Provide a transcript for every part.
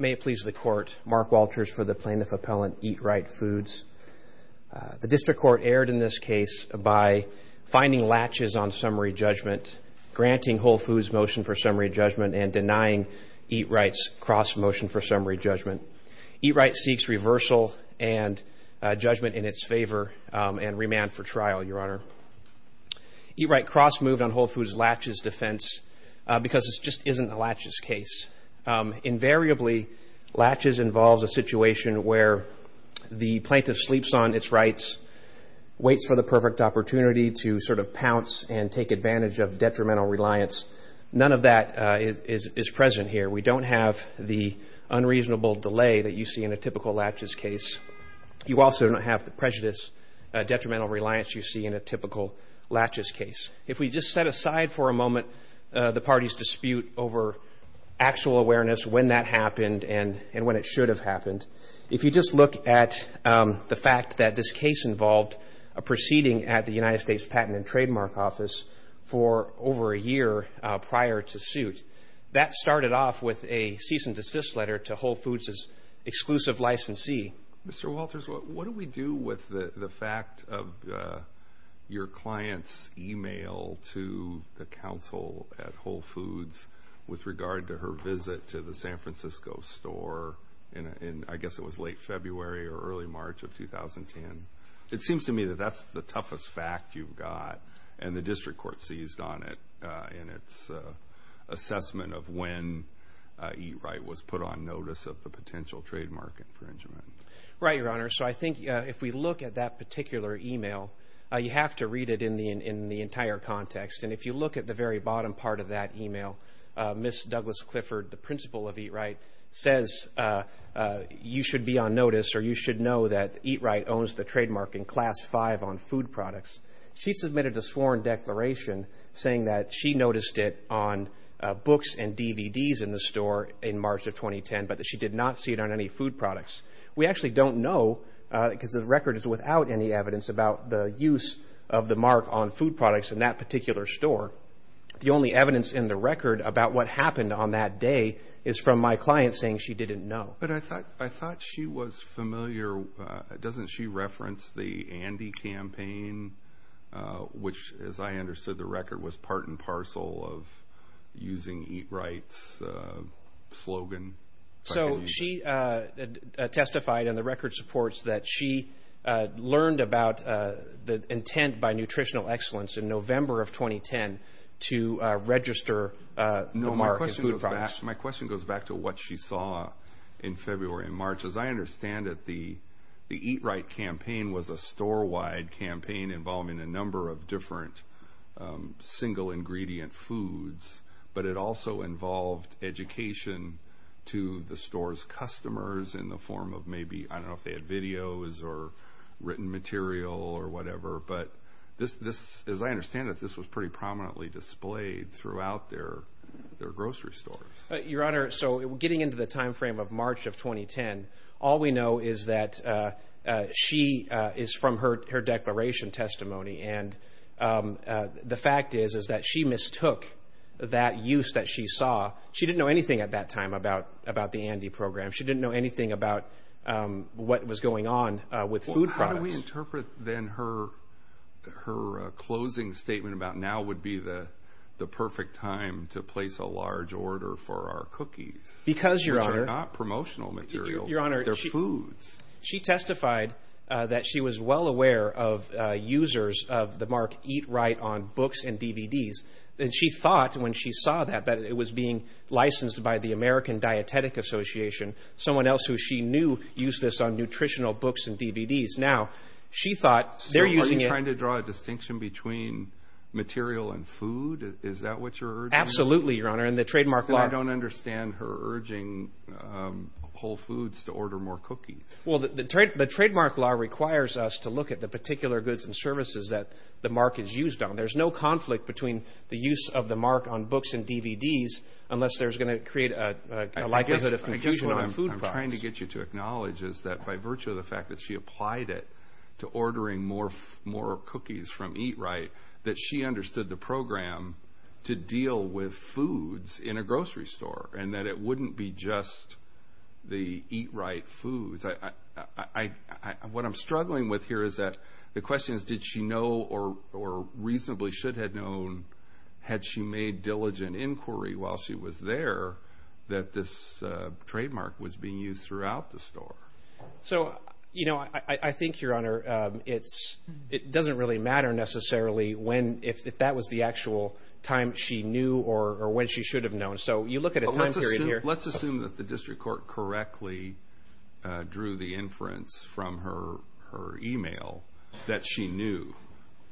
May it please the Court, Mark Walters for the Plaintiff Appellant, Eat Right Foods. The District Court erred in this case by finding latches on summary judgment, granting Whole Foods motion for summary judgment, and denying Eat Right's cross motion for summary judgment. Eat Right seeks reversal and judgment in its favor and remand for trial, Your Honor. Eat Right cross moved on Whole Foods latches defense because this just isn't a latches case. Invariably, latches involves a situation where the plaintiff sleeps on its rights, waits for the perfect opportunity to sort of pounce and take advantage of detrimental reliance. None of that is present here. We don't have the unreasonable delay that you see in a typical latches case. You also don't have the prejudice, detrimental reliance you see in a typical latches case. If we just set aside for a moment the party's dispute over actual awareness, when that happened and when it should have happened. If you just look at the fact that this case involved a proceeding at the United States Patent and Trademark Office for over a year prior to suit. That started off with a cease and desist letter to Whole Foods' exclusive licensee. Mr. Walters, what do we do with the fact of your client's email to the counsel at Whole Foods with regard to her visit to the San Francisco store in I guess it was late February or early March of 2010. It seems to me that that's the toughest fact you've got and the district court seized on in its assessment of when Eat Right was put on notice of the potential trademark infringement. Right, your honor. So I think if we look at that particular email, you have to read it in the entire context. And if you look at the very bottom part of that email, Ms. Douglas Clifford, the principal of Eat Right, says you should be on notice or you should know that Eat Right owns the trademark in Class 5 on food products. She submitted a sworn declaration saying that she noticed it on books and DVDs in the store in March of 2010, but that she did not see it on any food products. We actually don't know because the record is without any evidence about the use of the mark on food products in that particular store. The only evidence in the record about what happened on that day is from my client saying she didn't know. But I thought she was familiar. Doesn't she reference the Andy campaign, which, as I understood, the record was part and parcel of using Eat Right's slogan? So she testified in the record supports that she learned about the intent by Nutritional Excellence in November of 2010 to register the mark on food products. No, my question goes back to what she saw in February and March. As I understand it, the Eat Right campaign was a store-wide campaign involving a number of different single-ingredient foods, but it also involved education to the store's customers in the form of maybe, I don't know if they had videos or written material or whatever. But as I understand it, this was pretty prominently displayed throughout their grocery stores. Your Honor, so getting into the time frame of March of 2010, all we know is that she is from her declaration testimony, and the fact is is that she mistook that use that she saw. She didn't know anything at that time about the Andy program. She didn't know anything about what was going on with food products. How do we interpret then her closing statement about now would be the perfect time to place a large order for our cookies, which are not promotional materials, they're foods. She testified that she was well aware of users of the mark Eat Right on books and DVDs, and she thought when she saw that that it was being licensed by the American Dietetic Association, someone else who she knew used this on nutritional books and DVDs. Now she thought they're using it. So you're trying to draw a distinction between material and food? Is that what you're urging? Absolutely, Your Honor. And the trademark law... I don't understand her urging Whole Foods to order more cookies. Well, the trademark law requires us to look at the particular goods and services that the mark is used on. There's no conflict between the use of the mark on books and DVDs unless there's going to create a... I guess what I'm trying to get you to acknowledge is that by virtue of the fact that she applied it to ordering more cookies from Eat Right, that she understood the program to deal with foods in a grocery store, and that it wouldn't be just the Eat Right foods. What I'm struggling with here is that the question is, did she know or reasonably should have known, had she made diligent inquiry while she was there, that this trademark was being used throughout the store? So, you know, I think, Your Honor, it doesn't really matter necessarily if that was the actual time she knew or when she should have known. So you look at a time period here... Let's assume that the district court correctly drew the inference from her email that she knew.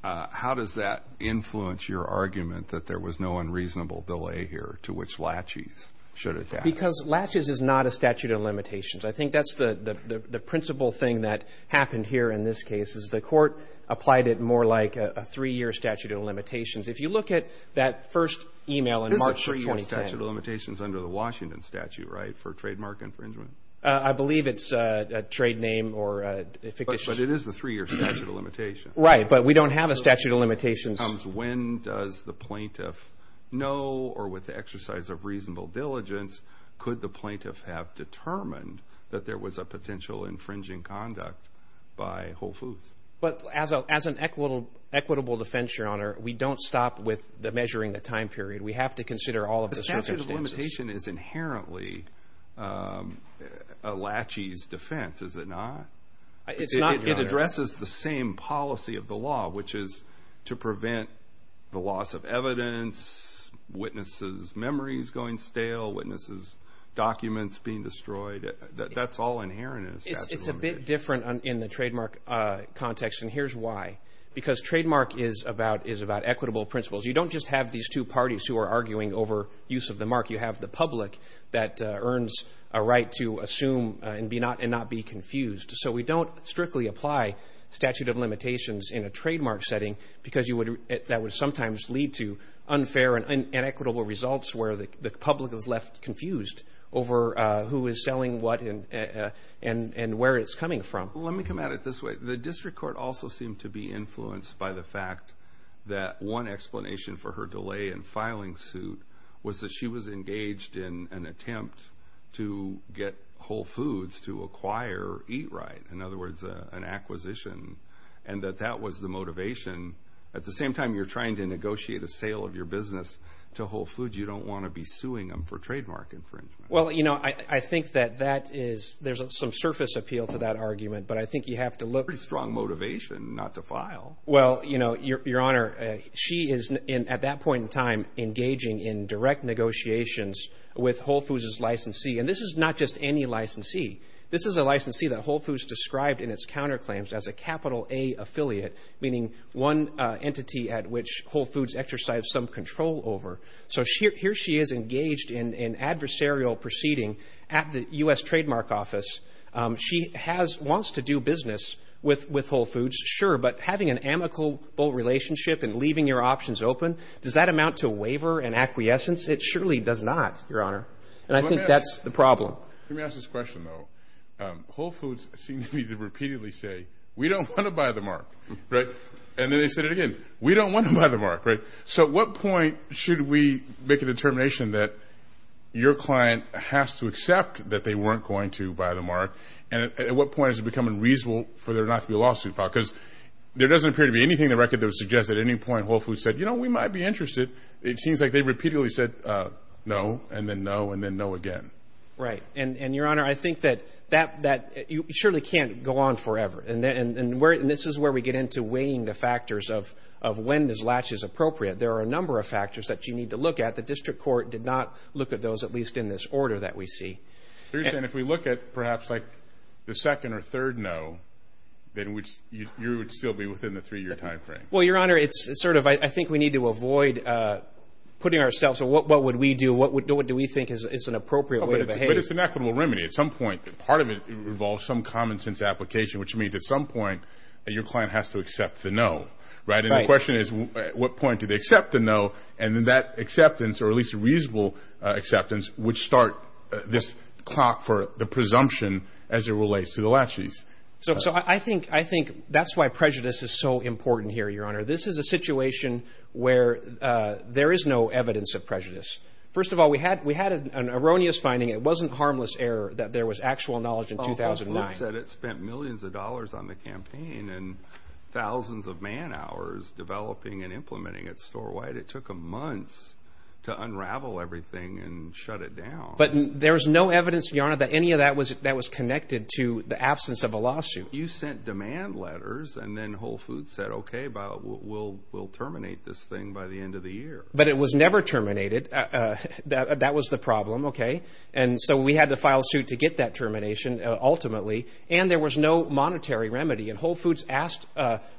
How does that influence your argument that there was no unreasonable delay here to which Latches should have... Because Latches is not a statute of limitations. I think that's the principal thing that happened here in this case, is the court applied it more like a three-year statute of limitations. If you look at that first email in March of 2010... It is a three-year statute of limitations under the Washington statute, right, for trademark infringement? I believe it's a trade name or a fictitious... But it is a three-year statute of limitations. Right, but we don't have a statute of limitations... When does the plaintiff know or with the exercise of reasonable diligence, could the plaintiff have determined that there was a potential infringing conduct by Whole Foods? But as an equitable defense, Your Honor, we don't stop with measuring the time period. We have to consider all of the circumstances. The statute of limitations is inherently a Latches defense, is it not? It's not, Your Honor. It addresses the same policy of the law, which is to prevent the loss of evidence, witnesses' memories going stale, witnesses' documents being destroyed. That's all inherent in a statute of limitations. It's a bit different in the trademark context, and here's why. Because trademark is about equitable principles. You don't just have these two parties who are arguing over use of the mark. You have the public that earns a right to assume and not be confused. So we don't strictly apply statute of limitations in a trademark setting because that would sometimes lead to unfair and inequitable results where the public is left confused over who is selling what and where it's coming from. Let me come at it this way. The district court also seemed to be influenced by the fact that one explanation for her delay in filing suit was that she was engaged in an attempt to get Whole Foods to acquire Eat Right, in other words, an acquisition, and that that was the motivation. At the same time, you're trying to negotiate a sale of your business to Whole Foods. You don't want to be suing them for trademark infringement. Well, you know, I think that that is, there's some surface appeal to that argument, but I think you have to look. Pretty strong motivation not to file. Well, you know, Your Honor, she is, at that point in time, engaging in direct negotiations with Whole Foods' licensee, and this is not just any licensee. This is a licensee that Whole Foods described in its counterclaims as a capital A affiliate, meaning one entity at which Whole Foods exercised some control over. So here she is engaged in adversarial proceeding at the U.S. Trademark Office. She has, wants to do business with Whole Foods, sure, but having an amicable relationship and leaving your options open, does that amount to a waiver, an acquiescence? It surely does not, Your Honor, and I think that's the problem. Let me ask this question, though. Whole Foods seems to me to repeatedly say, we don't want to buy the mark, right? And then they said it again. We don't want to buy the mark, right? So at what point should we make a determination that your client has to accept that they weren't going to buy the mark, and at what point is it becoming reasonable for there not to be a lawsuit filed? Because there doesn't appear to be anything in the record that would suggest at any point Whole Foods said, you know, we might be interested. It seems like they repeatedly said no, and then no, and then no again. Right. And, Your Honor, I think that you surely can't go on forever, and this is where we get into weighing the factors of when this latch is appropriate. There are a number of factors that you need to look at. The district court did not look at those, at least in this order that we see. So you're saying if we look at perhaps like the second or third no, then you would still be within the three-year time frame? Well, Your Honor, it's sort of, I think we need to avoid putting ourselves, what would we do? What do we think is an appropriate way to behave? But it's an equitable remedy. At some point, part of it involves some common sense application, which means at some point your client has to accept the no. Right. And the question is, at what point do they accept the no, and then that acceptance, or at least reasonable acceptance, would start this clock for the presumption as it relates to the latches. So, I think that's why prejudice is so important here, Your Honor. This is a situation where there is no evidence of prejudice. First of all, we had an erroneous finding. It wasn't harmless error that there was actual knowledge in 2009. Oh, that's right. It said it spent millions of dollars on the campaign and thousands of man hours developing and implementing it store-wide. It took them months to unravel everything and shut it down. But there's no evidence, Your Honor, that any of that was connected to the absence of a lawsuit. You sent demand letters, and then Whole Foods said, okay, we'll terminate this thing by the end of the year. But it was never terminated. That was the problem, okay? And so we had to file suit to get that termination, ultimately. And there was no monetary remedy, and Whole Foods asked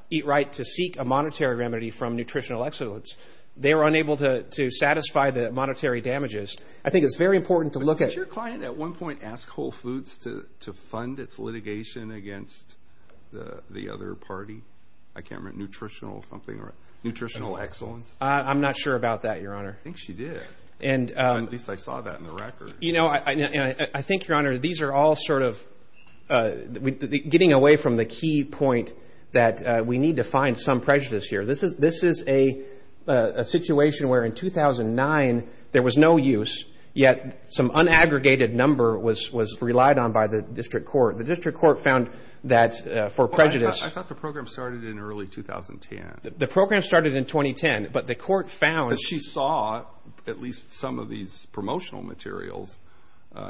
Eat Right to seek a monetary remedy from Nutritional Excellence. They were unable to satisfy the monetary damages. I think it's very important to look at... Did your client at one point ask Whole Foods to fund its litigation against the other party? I can't remember, Nutritional something, or Nutritional Excellence? I'm not sure about that, Your Honor. I think she did. At least I saw that in the record. I think, Your Honor, these are all sort of getting away from the key point that we need to find some prejudice here. This is a situation where in 2009 there was no use, yet some unaggregated number was relied on by the district court. The district court found that for prejudice... I thought the program started in early 2010. The program started in 2010, but the court found... But she saw at least some of these promotional materials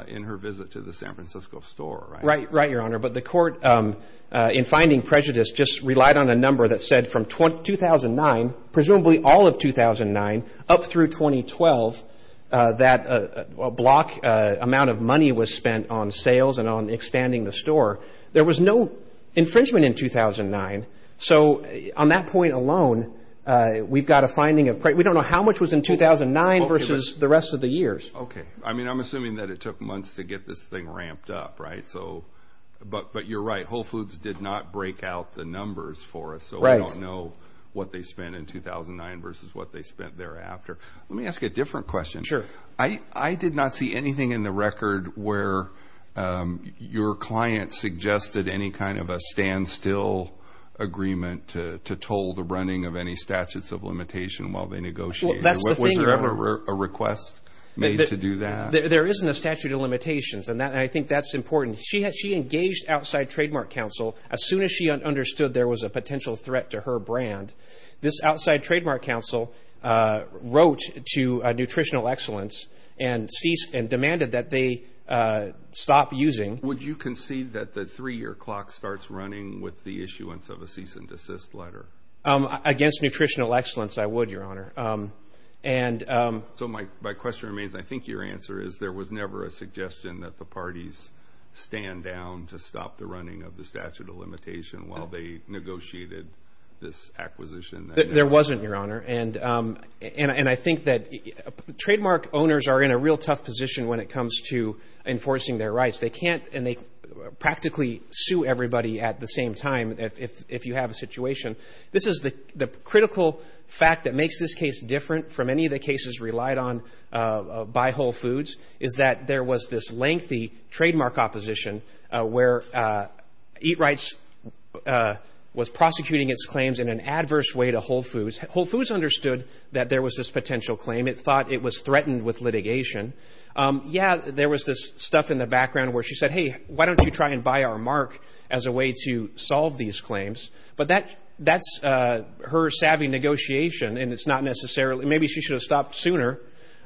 in her visit to the San Francisco store, right? Right, Your Honor, but the court in finding prejudice just relied on a number that said from 2009, presumably all of 2009, up through 2012, that a block amount of money was spent on sales and on expanding the store. There was no infringement in 2009, so on that point alone, we've got a finding of... We don't know how much was in 2009 versus the rest of the years. Okay. I mean, I'm assuming that it took months to get this thing ramped up, right? But you're right. Whole Foods did not break out the numbers for us, so we don't know what they spent in 2009 versus what they spent thereafter. Let me ask a different question. I did not see anything in the record where your client suggested any kind of a standstill agreement to toll the running of any statutes of limitation while they negotiated. That's the thing, Your Honor. Was there ever a request made to do that? There isn't a statute of limitations, and I think that's important. She engaged outside trademark counsel as soon as she understood there was a potential threat to her brand. This outside trademark counsel wrote to Nutritional Excellence and ceased and demanded that they stop using... Would you concede that the three-year clock starts running with the issuance of a cease and desist letter? Against Nutritional Excellence, I would, Your Honor. So my question remains, I think your answer is there was never a suggestion that the parties stand down to stop the running of the statute of limitation while they negotiated this acquisition? There wasn't, Your Honor. And I think that trademark owners are in a real tough position when it comes to enforcing their rights. They can't, and they practically sue everybody at the same time if you have a situation. This is the critical fact that makes this case different from any of the cases relied on by Whole Foods, is that there was this lengthy trademark opposition where Eat Rights was prosecuting its claims in an adverse way to Whole Foods. Whole Foods understood that there was this potential claim. It thought it was threatened with litigation. Yeah, there was this stuff in the background where she said, hey, why don't you try and buy our mark as a way to solve these claims? But that's her savvy negotiation, and it's not necessarily... Maybe she should have stopped sooner,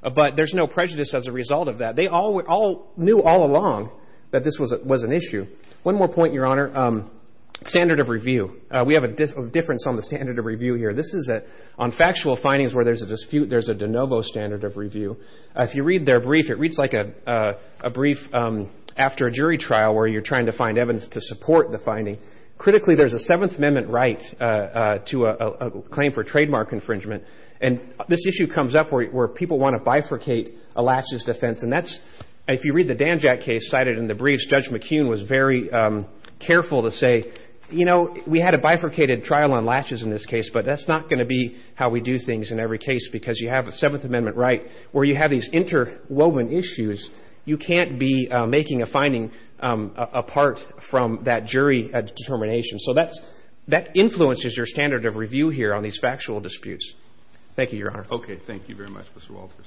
but there's no prejudice as a result of that. They all knew all along that this was an issue. One more point, Your Honor. Standard of review. We have a difference on the standard of review here. This is on factual findings where there's a dispute, there's a de novo standard of review. If you read their brief, it reads like a brief after a jury trial where you're trying to find evidence to support the finding. Critically, there's a Seventh Amendment right to a claim for trademark infringement. And this issue comes up where people want to bifurcate a laches defense, and that's... If you read the Danjack case cited in the briefs, Judge McKeon was very careful to say, you know, we had a bifurcated trial on laches in this case, but that's not going to be how we do things in every case because you have a Seventh Amendment right where you have these interwoven issues. You can't be making a finding apart from that jury determination. So that's... That influences your standard of review here on these factual disputes. Thank you, Your Honor. Okay. Thank you very much, Mr. Walters.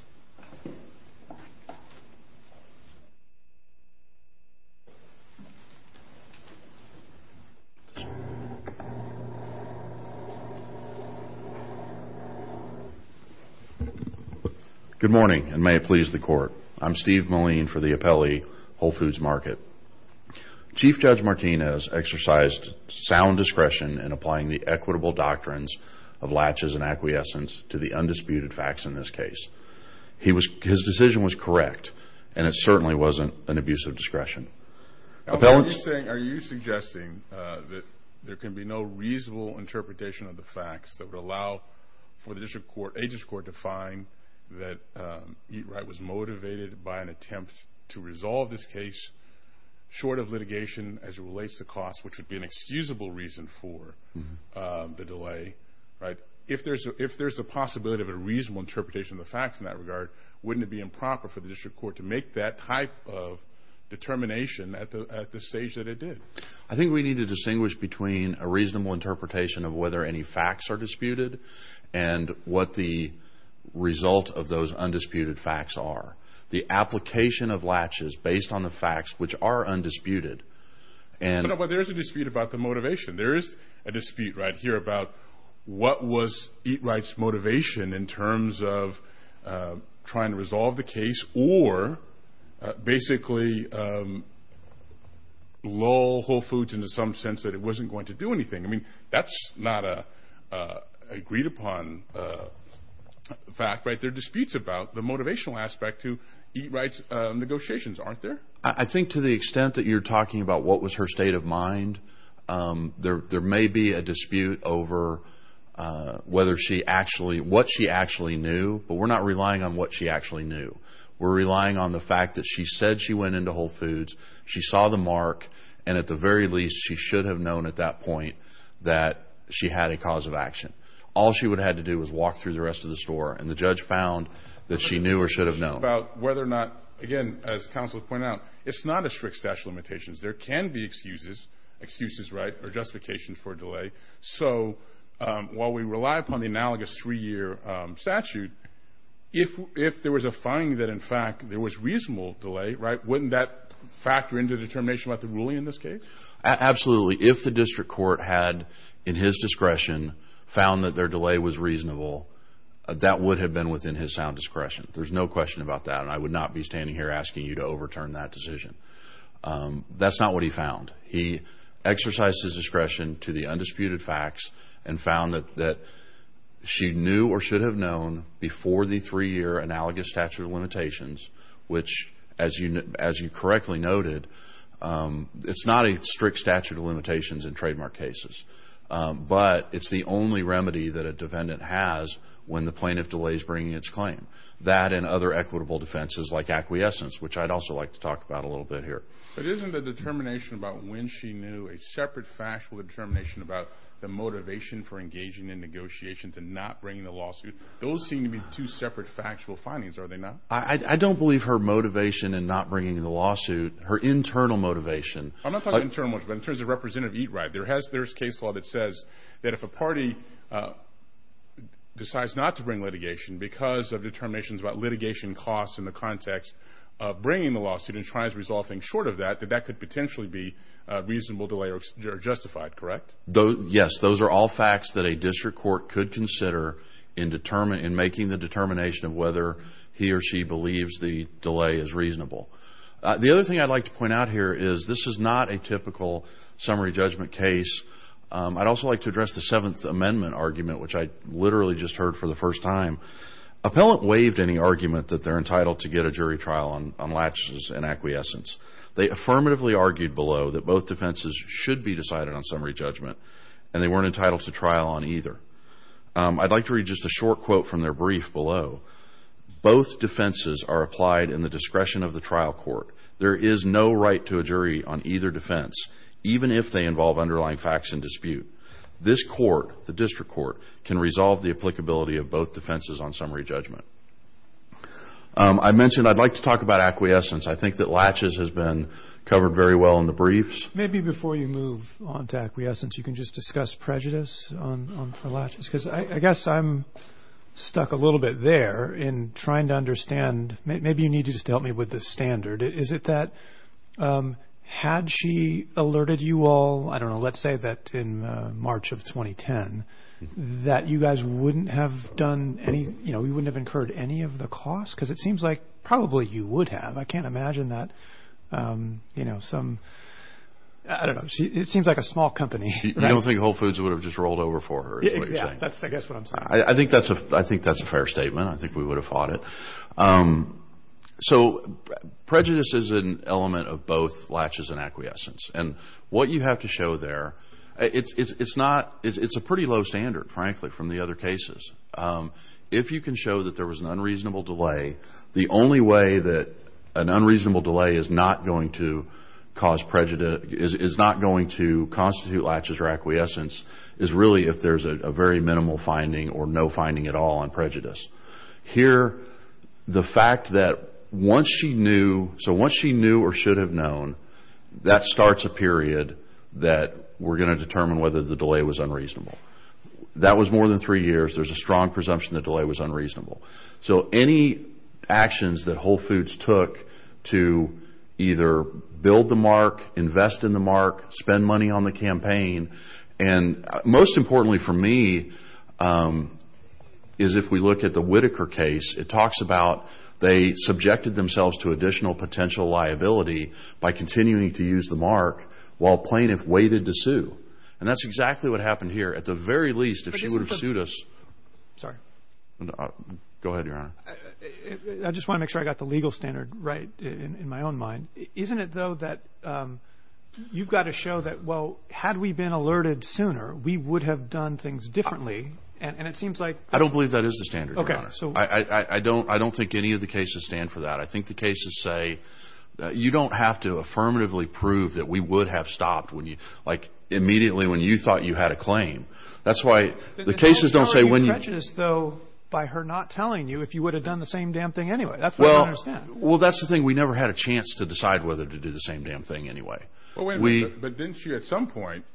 Good morning, and may it please the Court. I'm Steve Moline for the appellee, Whole Foods Market. Chief Judge Martinez exercised sound discretion in applying the equitable doctrines of laches and acquiescence to the undisputed facts in this case. His decision was correct, and it certainly wasn't an abuse of discretion. I'm just saying, are you suggesting that there can be no reasonable interpretation of the facts that would allow for the district court, a district court, to find that Eat Right was motivated by an attempt to resolve this case short of litigation as it relates to cost, which would be an excusable reason for the delay, right? If there's a possibility of a reasonable interpretation of the facts in that regard, wouldn't it be improper for the district court to make that type of determination at the stage that it did? I think we need to distinguish between a reasonable interpretation of whether any facts are disputed and what the result of those undisputed facts are. The application of laches based on the facts, which are undisputed, and... There's a dispute about the motivation. There is a dispute right here about what was Eat Right's motivation in terms of trying to resolve the case or basically lull Whole Foods into some sense that it wasn't going to do anything. I mean, that's not an agreed upon fact, right? There are disputes about the motivational aspect to Eat Right's negotiations, aren't there? I think to the extent that you're talking about what was her state of mind, there may be a dispute over what she actually knew, but we're not relying on what she actually knew. We're relying on the fact that she said she went into Whole Foods, she saw the mark, and at the very least, she should have known at that point that she had a cause of action. All she would have had to do was walk through the rest of the store, and the judge found that she knew or should have known. I'm talking about whether or not, again, as counsel pointed out, it's not a strict statute of limitations. There can be excuses, excuses, right, or justifications for delay, so while we rely upon the analogous three-year statute, if there was a finding that, in fact, there was reasonable delay, right, wouldn't that factor into the determination about the ruling in this case? Absolutely. If the district court had, in his discretion, found that their delay was reasonable, that would have been within his sound discretion. There's no question about that, and I would not be standing here asking you to overturn that decision. That's not what he found. He exercised his discretion to the undisputed facts and found that she knew or should have known before the three-year analogous statute of limitations, which, as you correctly noted, it's not a strict statute of limitations in trademark cases, but it's the only remedy that a defendant has when the plaintiff delays bringing its claim. That and other equitable defenses like acquiescence, which I'd also like to talk about a little bit here. But isn't the determination about when she knew a separate factual determination about the motivation for engaging in negotiations and not bringing the lawsuit, those seem to be two separate factual findings, are they not? I don't believe her motivation in not bringing the lawsuit. Her internal motivation. I'm not talking internal motivation, but in terms of Representative Eatright, there's a case law that says that if a party decides not to bring litigation because of determinations about litigation costs in the context of bringing the lawsuit and tries to resolve things short of that, that that could potentially be a reasonable delay or justified, correct? Yes. Those are all facts that a district court could consider in making the determination of whether he or she believes the delay is reasonable. The other thing I'd like to point out here is this is not a typical summary judgment case. I'd also like to address the Seventh Amendment argument, which I literally just heard for the first time. Appellant waived any argument that they're entitled to get a jury trial on latches and acquiescence. They affirmatively argued below that both defenses should be decided on summary judgment and they weren't entitled to trial on either. I'd like to read just a short quote from their brief below. Both defenses are applied in the discretion of the trial court. There is no right to a jury on either defense, even if they involve underlying facts in dispute. This court, the district court, can resolve the applicability of both defenses on summary judgment. I mentioned I'd like to talk about acquiescence. I think that latches has been covered very well in the briefs. Maybe before you move on to acquiescence, you can just discuss prejudice on the latches because I guess I'm stuck a little bit there in trying to understand. Maybe you need to just help me with the standard. Is it that had she alerted you all, I don't know, let's say that in March of 2010, that you guys wouldn't have done any, you know, you wouldn't have incurred any of the costs because it seems like probably you would have. I can't imagine that, you know, some, I don't know. It seems like a small company. You don't think Whole Foods would have just rolled over for her is what you're saying? Yeah, that's I guess what I'm saying. I think that's a fair statement. I think we would have fought it. So prejudice is an element of both latches and acquiescence. And what you have to show there, it's not, it's a pretty low standard, frankly, from the other cases. If you can show that there was an unreasonable delay, the only way that an unreasonable delay is not going to constitute latches or acquiescence is really if there's a very minimal finding or no finding at all on prejudice. Here the fact that once she knew, so once she knew or should have known, that starts a period that we're going to determine whether the delay was unreasonable. That was more than three years. There's a strong presumption the delay was unreasonable. So any actions that Whole Foods took to either build the mark, invest in the mark, spend money on the campaign, and most importantly for me is if we look at the Whitaker case, it talks about they subjected themselves to additional potential liability by continuing to use the mark while plaintiff waited to sue. And that's exactly what happened here. At the very least, if she would have sued us... Sorry. Go ahead, Your Honor. I just want to make sure I got the legal standard right in my own mind. Isn't it though that you've got to show that, well, had we been alerted sooner, we would have done things differently? And it seems like... I don't believe that is the standard, Your Honor. Okay. So... I don't think any of the cases stand for that. I think the cases say that you don't have to affirmatively prove that we would have stopped when you... Like immediately when you thought you had a claim. That's why the cases don't say when you... But it's all very pretentious though by her not telling you if you would have done the same damn thing anyway. That's what I don't understand. Well, that's the thing. We never had a chance to decide whether to do the same damn thing anyway. We... But wait a minute. But didn't you at some point...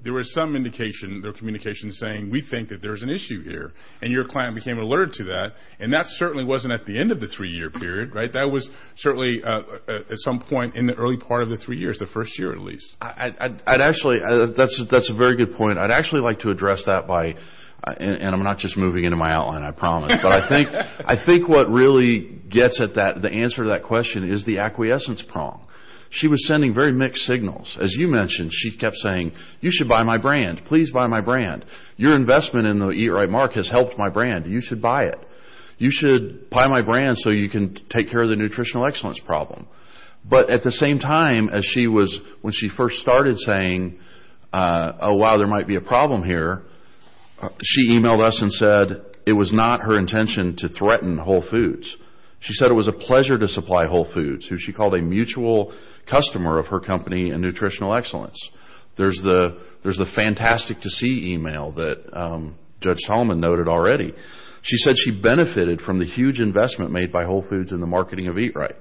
There was some indication, there were communications saying, we think that there's an issue here and your client became alerted to that. And that certainly wasn't at the end of the three-year period, right? That was certainly at some point in the early part of the three years, the first year at least. I'd actually... That's a very good point. I'd actually like to address that by... And I'm not just moving into my outline, I promise. But I think what really gets at that, the answer to that question is the acquiescence prong. She was sending very mixed signals. As you mentioned, she kept saying, you should buy my brand. Please buy my brand. Your investment in the E-Write Mark has helped my brand. You should buy it. You should buy my brand so you can take care of the nutritional excellence problem. But at the same time, as she was... When she first started saying, oh, wow, there might be a problem here, she emailed us and said it was not her intention to threaten Whole Foods. She said it was a pleasure to supply Whole Foods, who she called a mutual customer of her company in nutritional excellence. There's the fantastic to see email that Judge Solomon noted already. She said she benefited from the huge investment made by Whole Foods in the marketing of E-Write.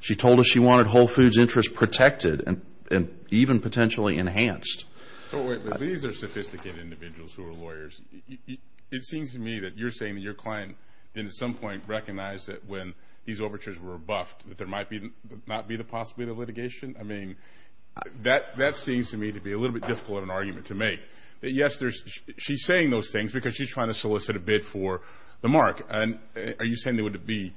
She told us she wanted Whole Foods' interest protected and even potentially enhanced. So wait, but these are sophisticated individuals who are lawyers. It seems to me that you're saying that your client didn't at some point recognize that when these overtures were buffed, that there might not be the possibility of litigation. I mean, that seems to me to be a little bit difficult of an argument to make. But yes, she's saying those things because she's trying to solicit a bid for the mark. And are you saying that it would be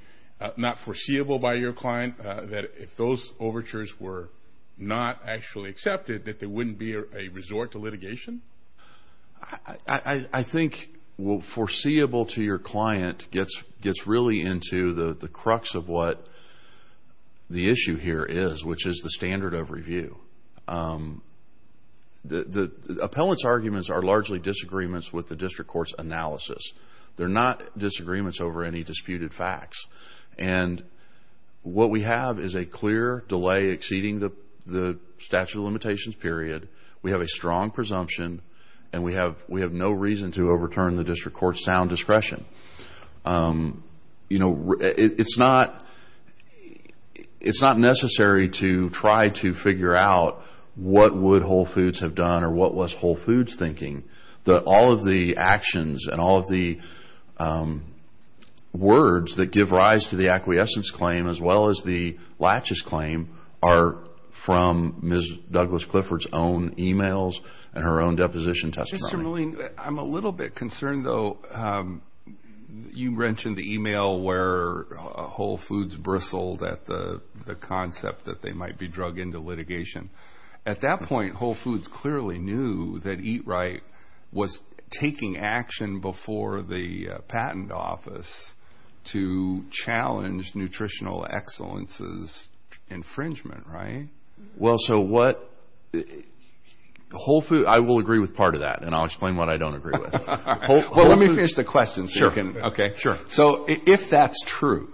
not foreseeable by your client, that if those overtures were not actually accepted, that there wouldn't be a resort to litigation? I think foreseeable to your client gets really into the crux of what the issue here is, which is the standard of review. The appellant's arguments are largely disagreements with the district court's analysis. They're not disagreements over any disputed facts. And what we have is a clear delay exceeding the statute of limitations period. We have a strong presumption. And we have no reason to overturn the district court's sound discretion. You know, it's not necessary to try to figure out what would Whole Foods have done or what was Whole Foods thinking. All of the actions and all of the words that give rise to the acquiescence claim as well as the latches claim are from Ms. Douglas Clifford's own emails and her own deposition testimony. Mr. Milleen, I'm a little bit concerned, though. You mentioned the email where Whole Foods bristled at the concept that they might be drug into litigation. At that point, Whole Foods clearly knew that Eat Right was taking action before the patent office to challenge Nutritional Excellence's infringement, right? Well, so what – Whole Foods – I will agree with part of that, and I'll explain what I don't agree with. Well, let me finish the question so you can – Sure. Okay. Sure. So if that's true,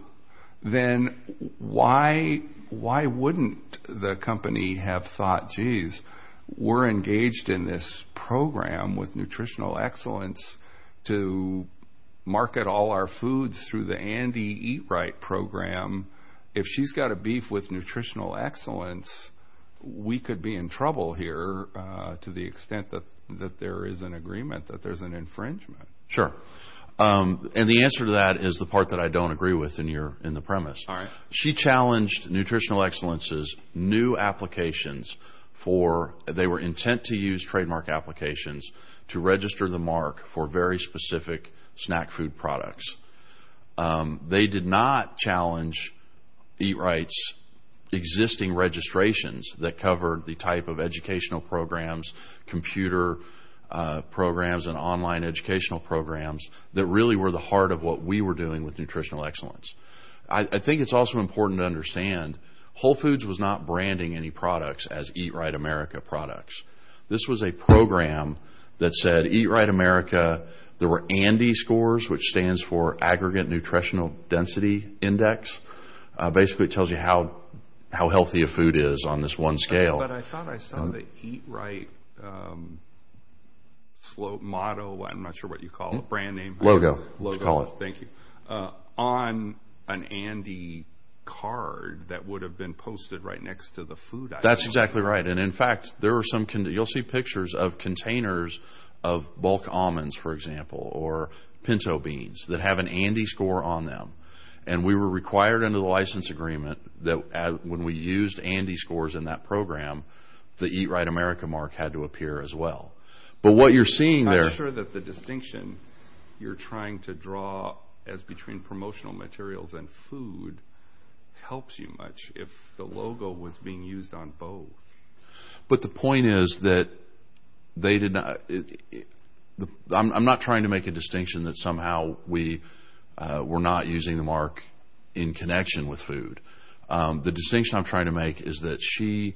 then why wouldn't the company have thought, geez, we're engaged in this program with Nutritional Excellence to market all our foods through the Andy Eat Right program. If she's got a beef with Nutritional Excellence, we could be in trouble here to the extent that there is an agreement that there's an infringement. Sure. And the answer to that is the part that I don't agree with in the premise. She challenged Nutritional Excellence's new applications for – they were intent to use trademark applications to register the mark for very specific snack food products. They did not challenge Eat Right's existing registrations that covered the type of educational programs, computer programs, and online educational programs that really were the heart of what we were doing with Nutritional Excellence. I think it's also important to understand Whole Foods was not branding any products as Eat Right America products. This was a program that said Eat Right America, there were Andy scores, which stands for Aggregate Nutritional Density Index. Basically, it tells you how healthy a food is on this one scale. But I thought I saw the Eat Right model – I'm not sure what you call it, brand name – Logo. Let's call it. Logo. Thank you. On an Andy card that would have been posted right next to the food item. That's exactly right. And in fact, there are some – you'll see pictures of containers of bulk almonds, for example, or pinto beans that have an Andy score on them. And we were required under the license agreement that when we used Andy scores in that program, the Eat Right America mark had to appear as well. But what you're seeing there – I'm not sure that the distinction you're trying to draw as between promotional materials and food helps you much if the logo was being used on both. But the point is that they did not – I'm not trying to make a distinction that somehow we were not using the mark in connection with food. The distinction I'm trying to make is that she,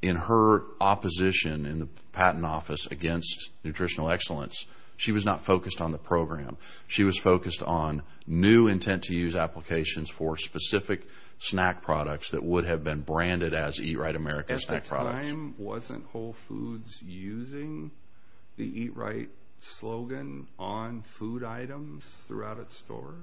in her opposition in the Patent Office against nutritional excellence, she was not focused on the program. She was focused on new intent-to-use applications for specific snack products that would have been branded as Eat Right America snack products. At the time, wasn't Whole Foods using the Eat Right slogan on food items throughout its stores?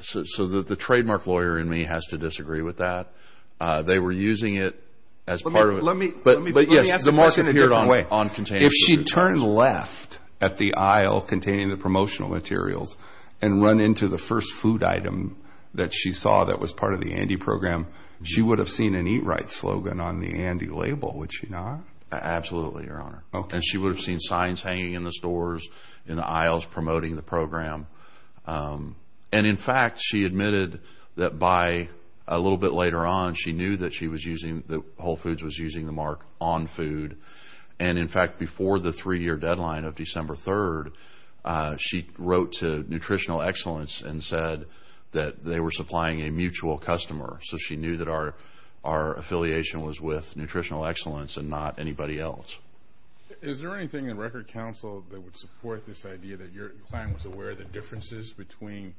So the trademark lawyer in me has to disagree with that. They were using it as part of – Let me – But yes, the mark appeared on containers. If she turned left at the aisle containing the promotional materials and run into the first food item that she saw that was part of the Andy program, she would have seen an Eat Right slogan on the Andy label, would she not? Absolutely, Your Honor. Okay. And she would have seen signs hanging in the stores, in the aisles promoting the program. And in fact, she admitted that by a little bit later on, she knew that Whole Foods was using the mark on food. And in fact, before the three-year deadline of December 3rd, she wrote to Nutritional Excellence and said that they were supplying a mutual customer. So she knew that our affiliation was with Nutritional Excellence and not anybody else. Is there anything in Record Counsel that would support this idea that your client was aware of the differences between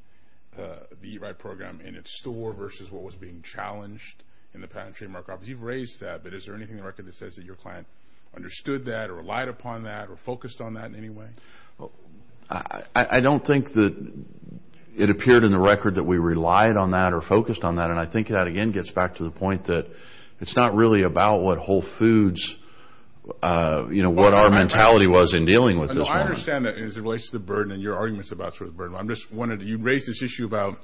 the Eat Right program in its store versus what was being challenged in the patent trademark office? Because you've raised that, but is there anything in the record that says that your client understood that or relied upon that or focused on that in any way? I don't think that it appeared in the record that we relied on that or focused on that. And I think that, again, gets back to the point that it's not really about what Whole Foods, you know, what our mentality was in dealing with this mark. No, I understand that as it relates to the burden and your arguments about sort of the burden. I'm just wondering. You raised this issue about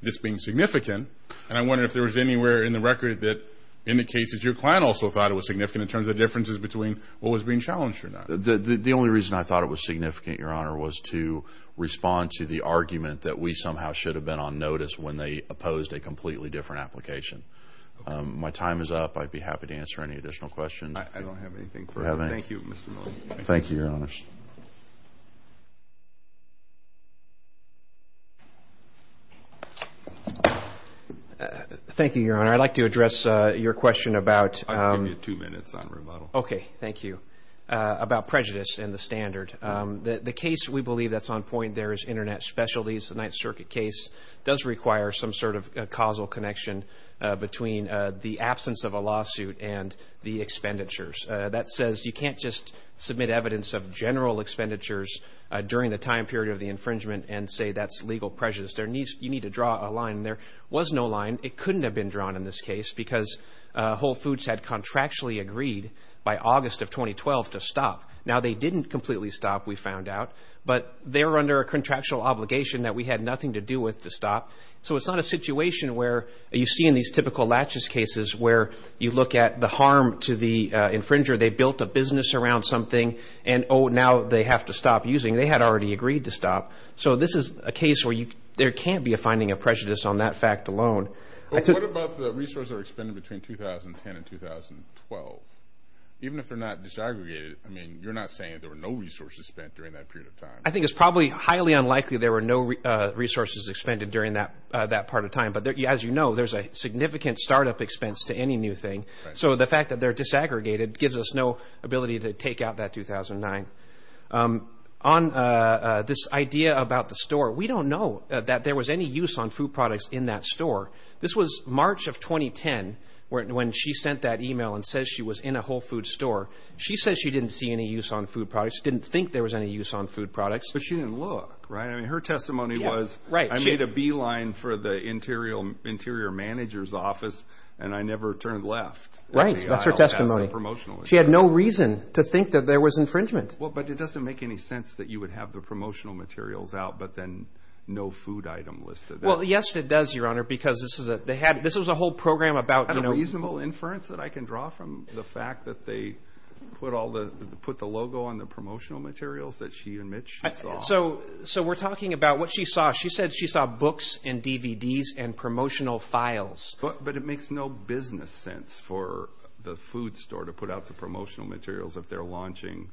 this being significant, and I'm wondering if there was anywhere in the record that indicates that your client also thought it was significant in terms of differences between what was being challenged or not. The only reason I thought it was significant, Your Honor, was to respond to the argument that we somehow should have been on notice when they opposed a completely different application. My time is up. I'd be happy to answer any additional questions. I don't have anything further. Thank you, Mr. Miller. Thank you, Your Honors. Thank you, Your Honor. I'd like to address your question about. I'll give you two minutes on rebuttal. Okay. Thank you. About prejudice and the standard. The case we believe that's on point there is Internet Specialties, the 9th Circuit case does require some sort of causal connection between the absence of a lawsuit and the expenditures. That says you can't just submit evidence of general expenditures during the time period of the infringement and say that's legal prejudice. You need to draw a line. There was no line. It couldn't have been drawn in this case because Whole Foods had contractually agreed by August of 2012 to stop. Now they didn't completely stop, we found out, but they were under a contractual obligation that we had nothing to do with to stop. So it's not a situation where you see in these typical laches cases where you look at the infringer, they built a business around something and, oh, now they have to stop using. They had already agreed to stop. So this is a case where there can't be a finding of prejudice on that fact alone. What about the resources that are expended between 2010 and 2012? Even if they're not disaggregated, I mean, you're not saying there were no resources spent during that period of time. I think it's probably highly unlikely there were no resources expended during that part of time. But as you know, there's a significant startup expense to any new thing. So the fact that they're disaggregated gives us no ability to take out that 2009. On this idea about the store, we don't know that there was any use on food products in that store. This was March of 2010 when she sent that email and says she was in a Whole Foods store. She says she didn't see any use on food products, didn't think there was any use on food products. But she didn't look, right? I mean, her testimony was, I made a beeline for the interior manager's office and I never turned left. Right. That's her testimony. She had no reason to think that there was infringement. But it doesn't make any sense that you would have the promotional materials out, but then no food item listed there. Well, yes, it does, Your Honor, because this was a whole program about, you know... Is there a reasonable inference that I can draw from the fact that they put the logo on the promotional materials that she and Mitch saw? So we're talking about what she saw. She said she saw books and DVDs and promotional files. But it makes no business sense for the food store to put out the promotional materials if they're launching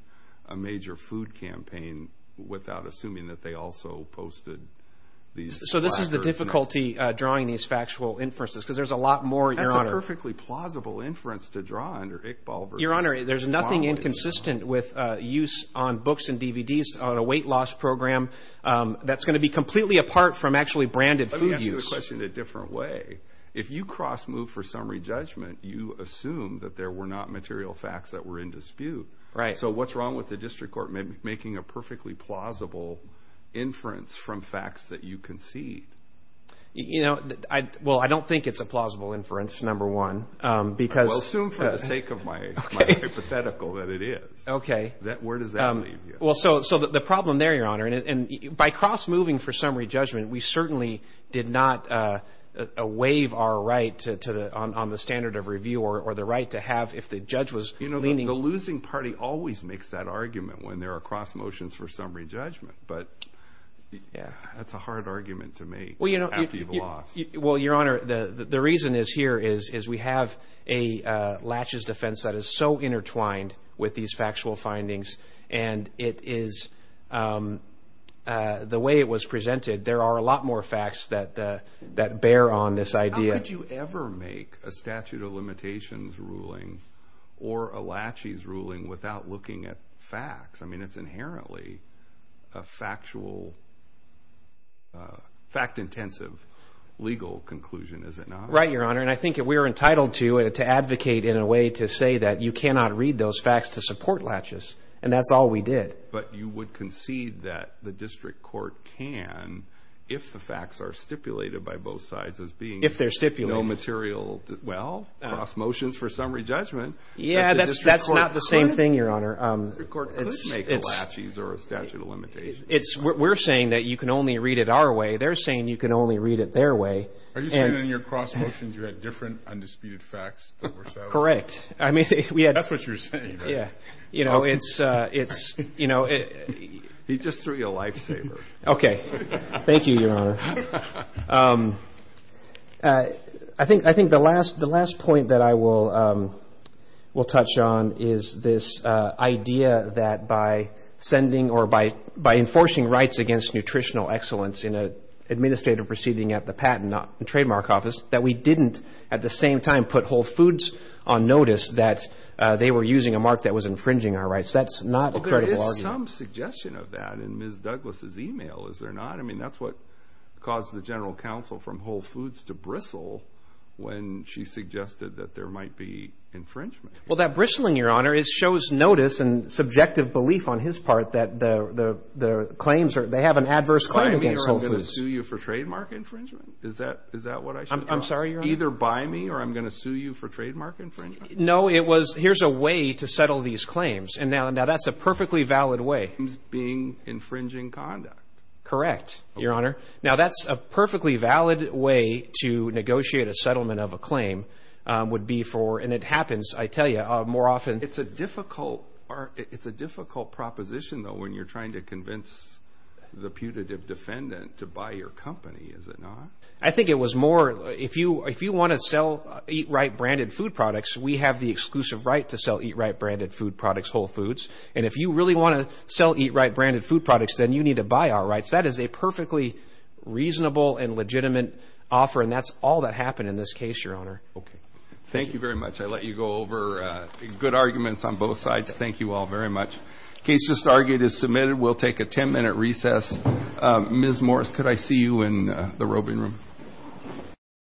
a major food campaign without assuming that they also posted these... So this is the difficulty drawing these factual inferences, because there's a lot more, Your Honor. That's a perfectly plausible inference to draw under Ick-Bulver's... Your Honor, there's nothing inconsistent with use on books and DVDs on a weight loss program that's going to be completely apart from actually branded food use. Let me ask you a question in a different way. If you cross-move for summary judgment, you assume that there were not material facts that were in dispute. So what's wrong with the district court making a perfectly plausible inference from facts that you concede? Well, I don't think it's a plausible inference, number one, because... Well, assume for the sake of my hypothetical that it is. Where does that leave you? Well, so the problem there, Your Honor, and by cross-moving for summary judgment, we certainly did not waive our right on the standard of review or the right to have, if the judge was leaning... You know, the losing party always makes that argument when there are cross-motions for summary judgment, but that's a hard argument to make after you've lost. Well, Your Honor, the reason is here is we have a laches defense that is so intertwined with these factual findings, and it is... There are facts that bear on this idea. How could you ever make a statute of limitations ruling or a laches ruling without looking at facts? I mean, it's inherently a factual, fact-intensive legal conclusion, is it not? Right, Your Honor, and I think we are entitled to advocate in a way to say that you cannot read those facts to support laches, and that's all we did. But you would concede that the district court can, if the facts are stipulated by both sides as being... If they're stipulated. ...no material... Well, cross-motions for summary judgment. Yeah, that's not the same thing, Your Honor. The district court could make a laches or a statute of limitations. We're saying that you can only read it our way. They're saying you can only read it their way. Are you saying in your cross-motions you had different undisputed facts that were settled? Correct. I mean, we had... That's what you're saying. Yeah, you know, it's, you know... He just threw you a lifesaver. Thank you, Your Honor. I think the last point that I will touch on is this idea that by sending or by enforcing rights against nutritional excellence in an administrative proceeding at the Patent and Trademark Office, that we didn't at the same time put Whole Foods on notice that they were using a mark that was infringing our rights. That's not a credible argument. Well, there is some suggestion of that in Ms. Douglas' email, is there not? I mean, that's what caused the general counsel from Whole Foods to bristle when she suggested that there might be infringement. Well, that bristling, Your Honor, shows notice and subjective belief on his part that the They have an adverse claim against Whole Foods. By me or I'm going to sue you for trademark infringement? Is that what I should do? I'm sorry, Your Honor? Either by me or I'm going to sue you for trademark infringement? No, it was, here's a way to settle these claims. And now that's a perfectly valid way. Claims being infringing conduct. Correct, Your Honor. Now that's a perfectly valid way to negotiate a settlement of a claim would be for, and it happens, I tell you, more often. It's a difficult proposition, though, when you're trying to convince the putative defendant to buy your company, is it not? I think it was more, if you want to sell Eat Right branded food products, we have the exclusive right to sell Eat Right branded food products, Whole Foods. And if you really want to sell Eat Right branded food products, then you need to buy our rights. That is a perfectly reasonable and legitimate offer, and that's all that happened in this case, Your Honor. Okay. Thank you very much. I let you go over good arguments on both sides. Thank you all very much. The case just argued is submitted. We'll take a 10-minute recess. Ms. Morris, could I see you in the roving room?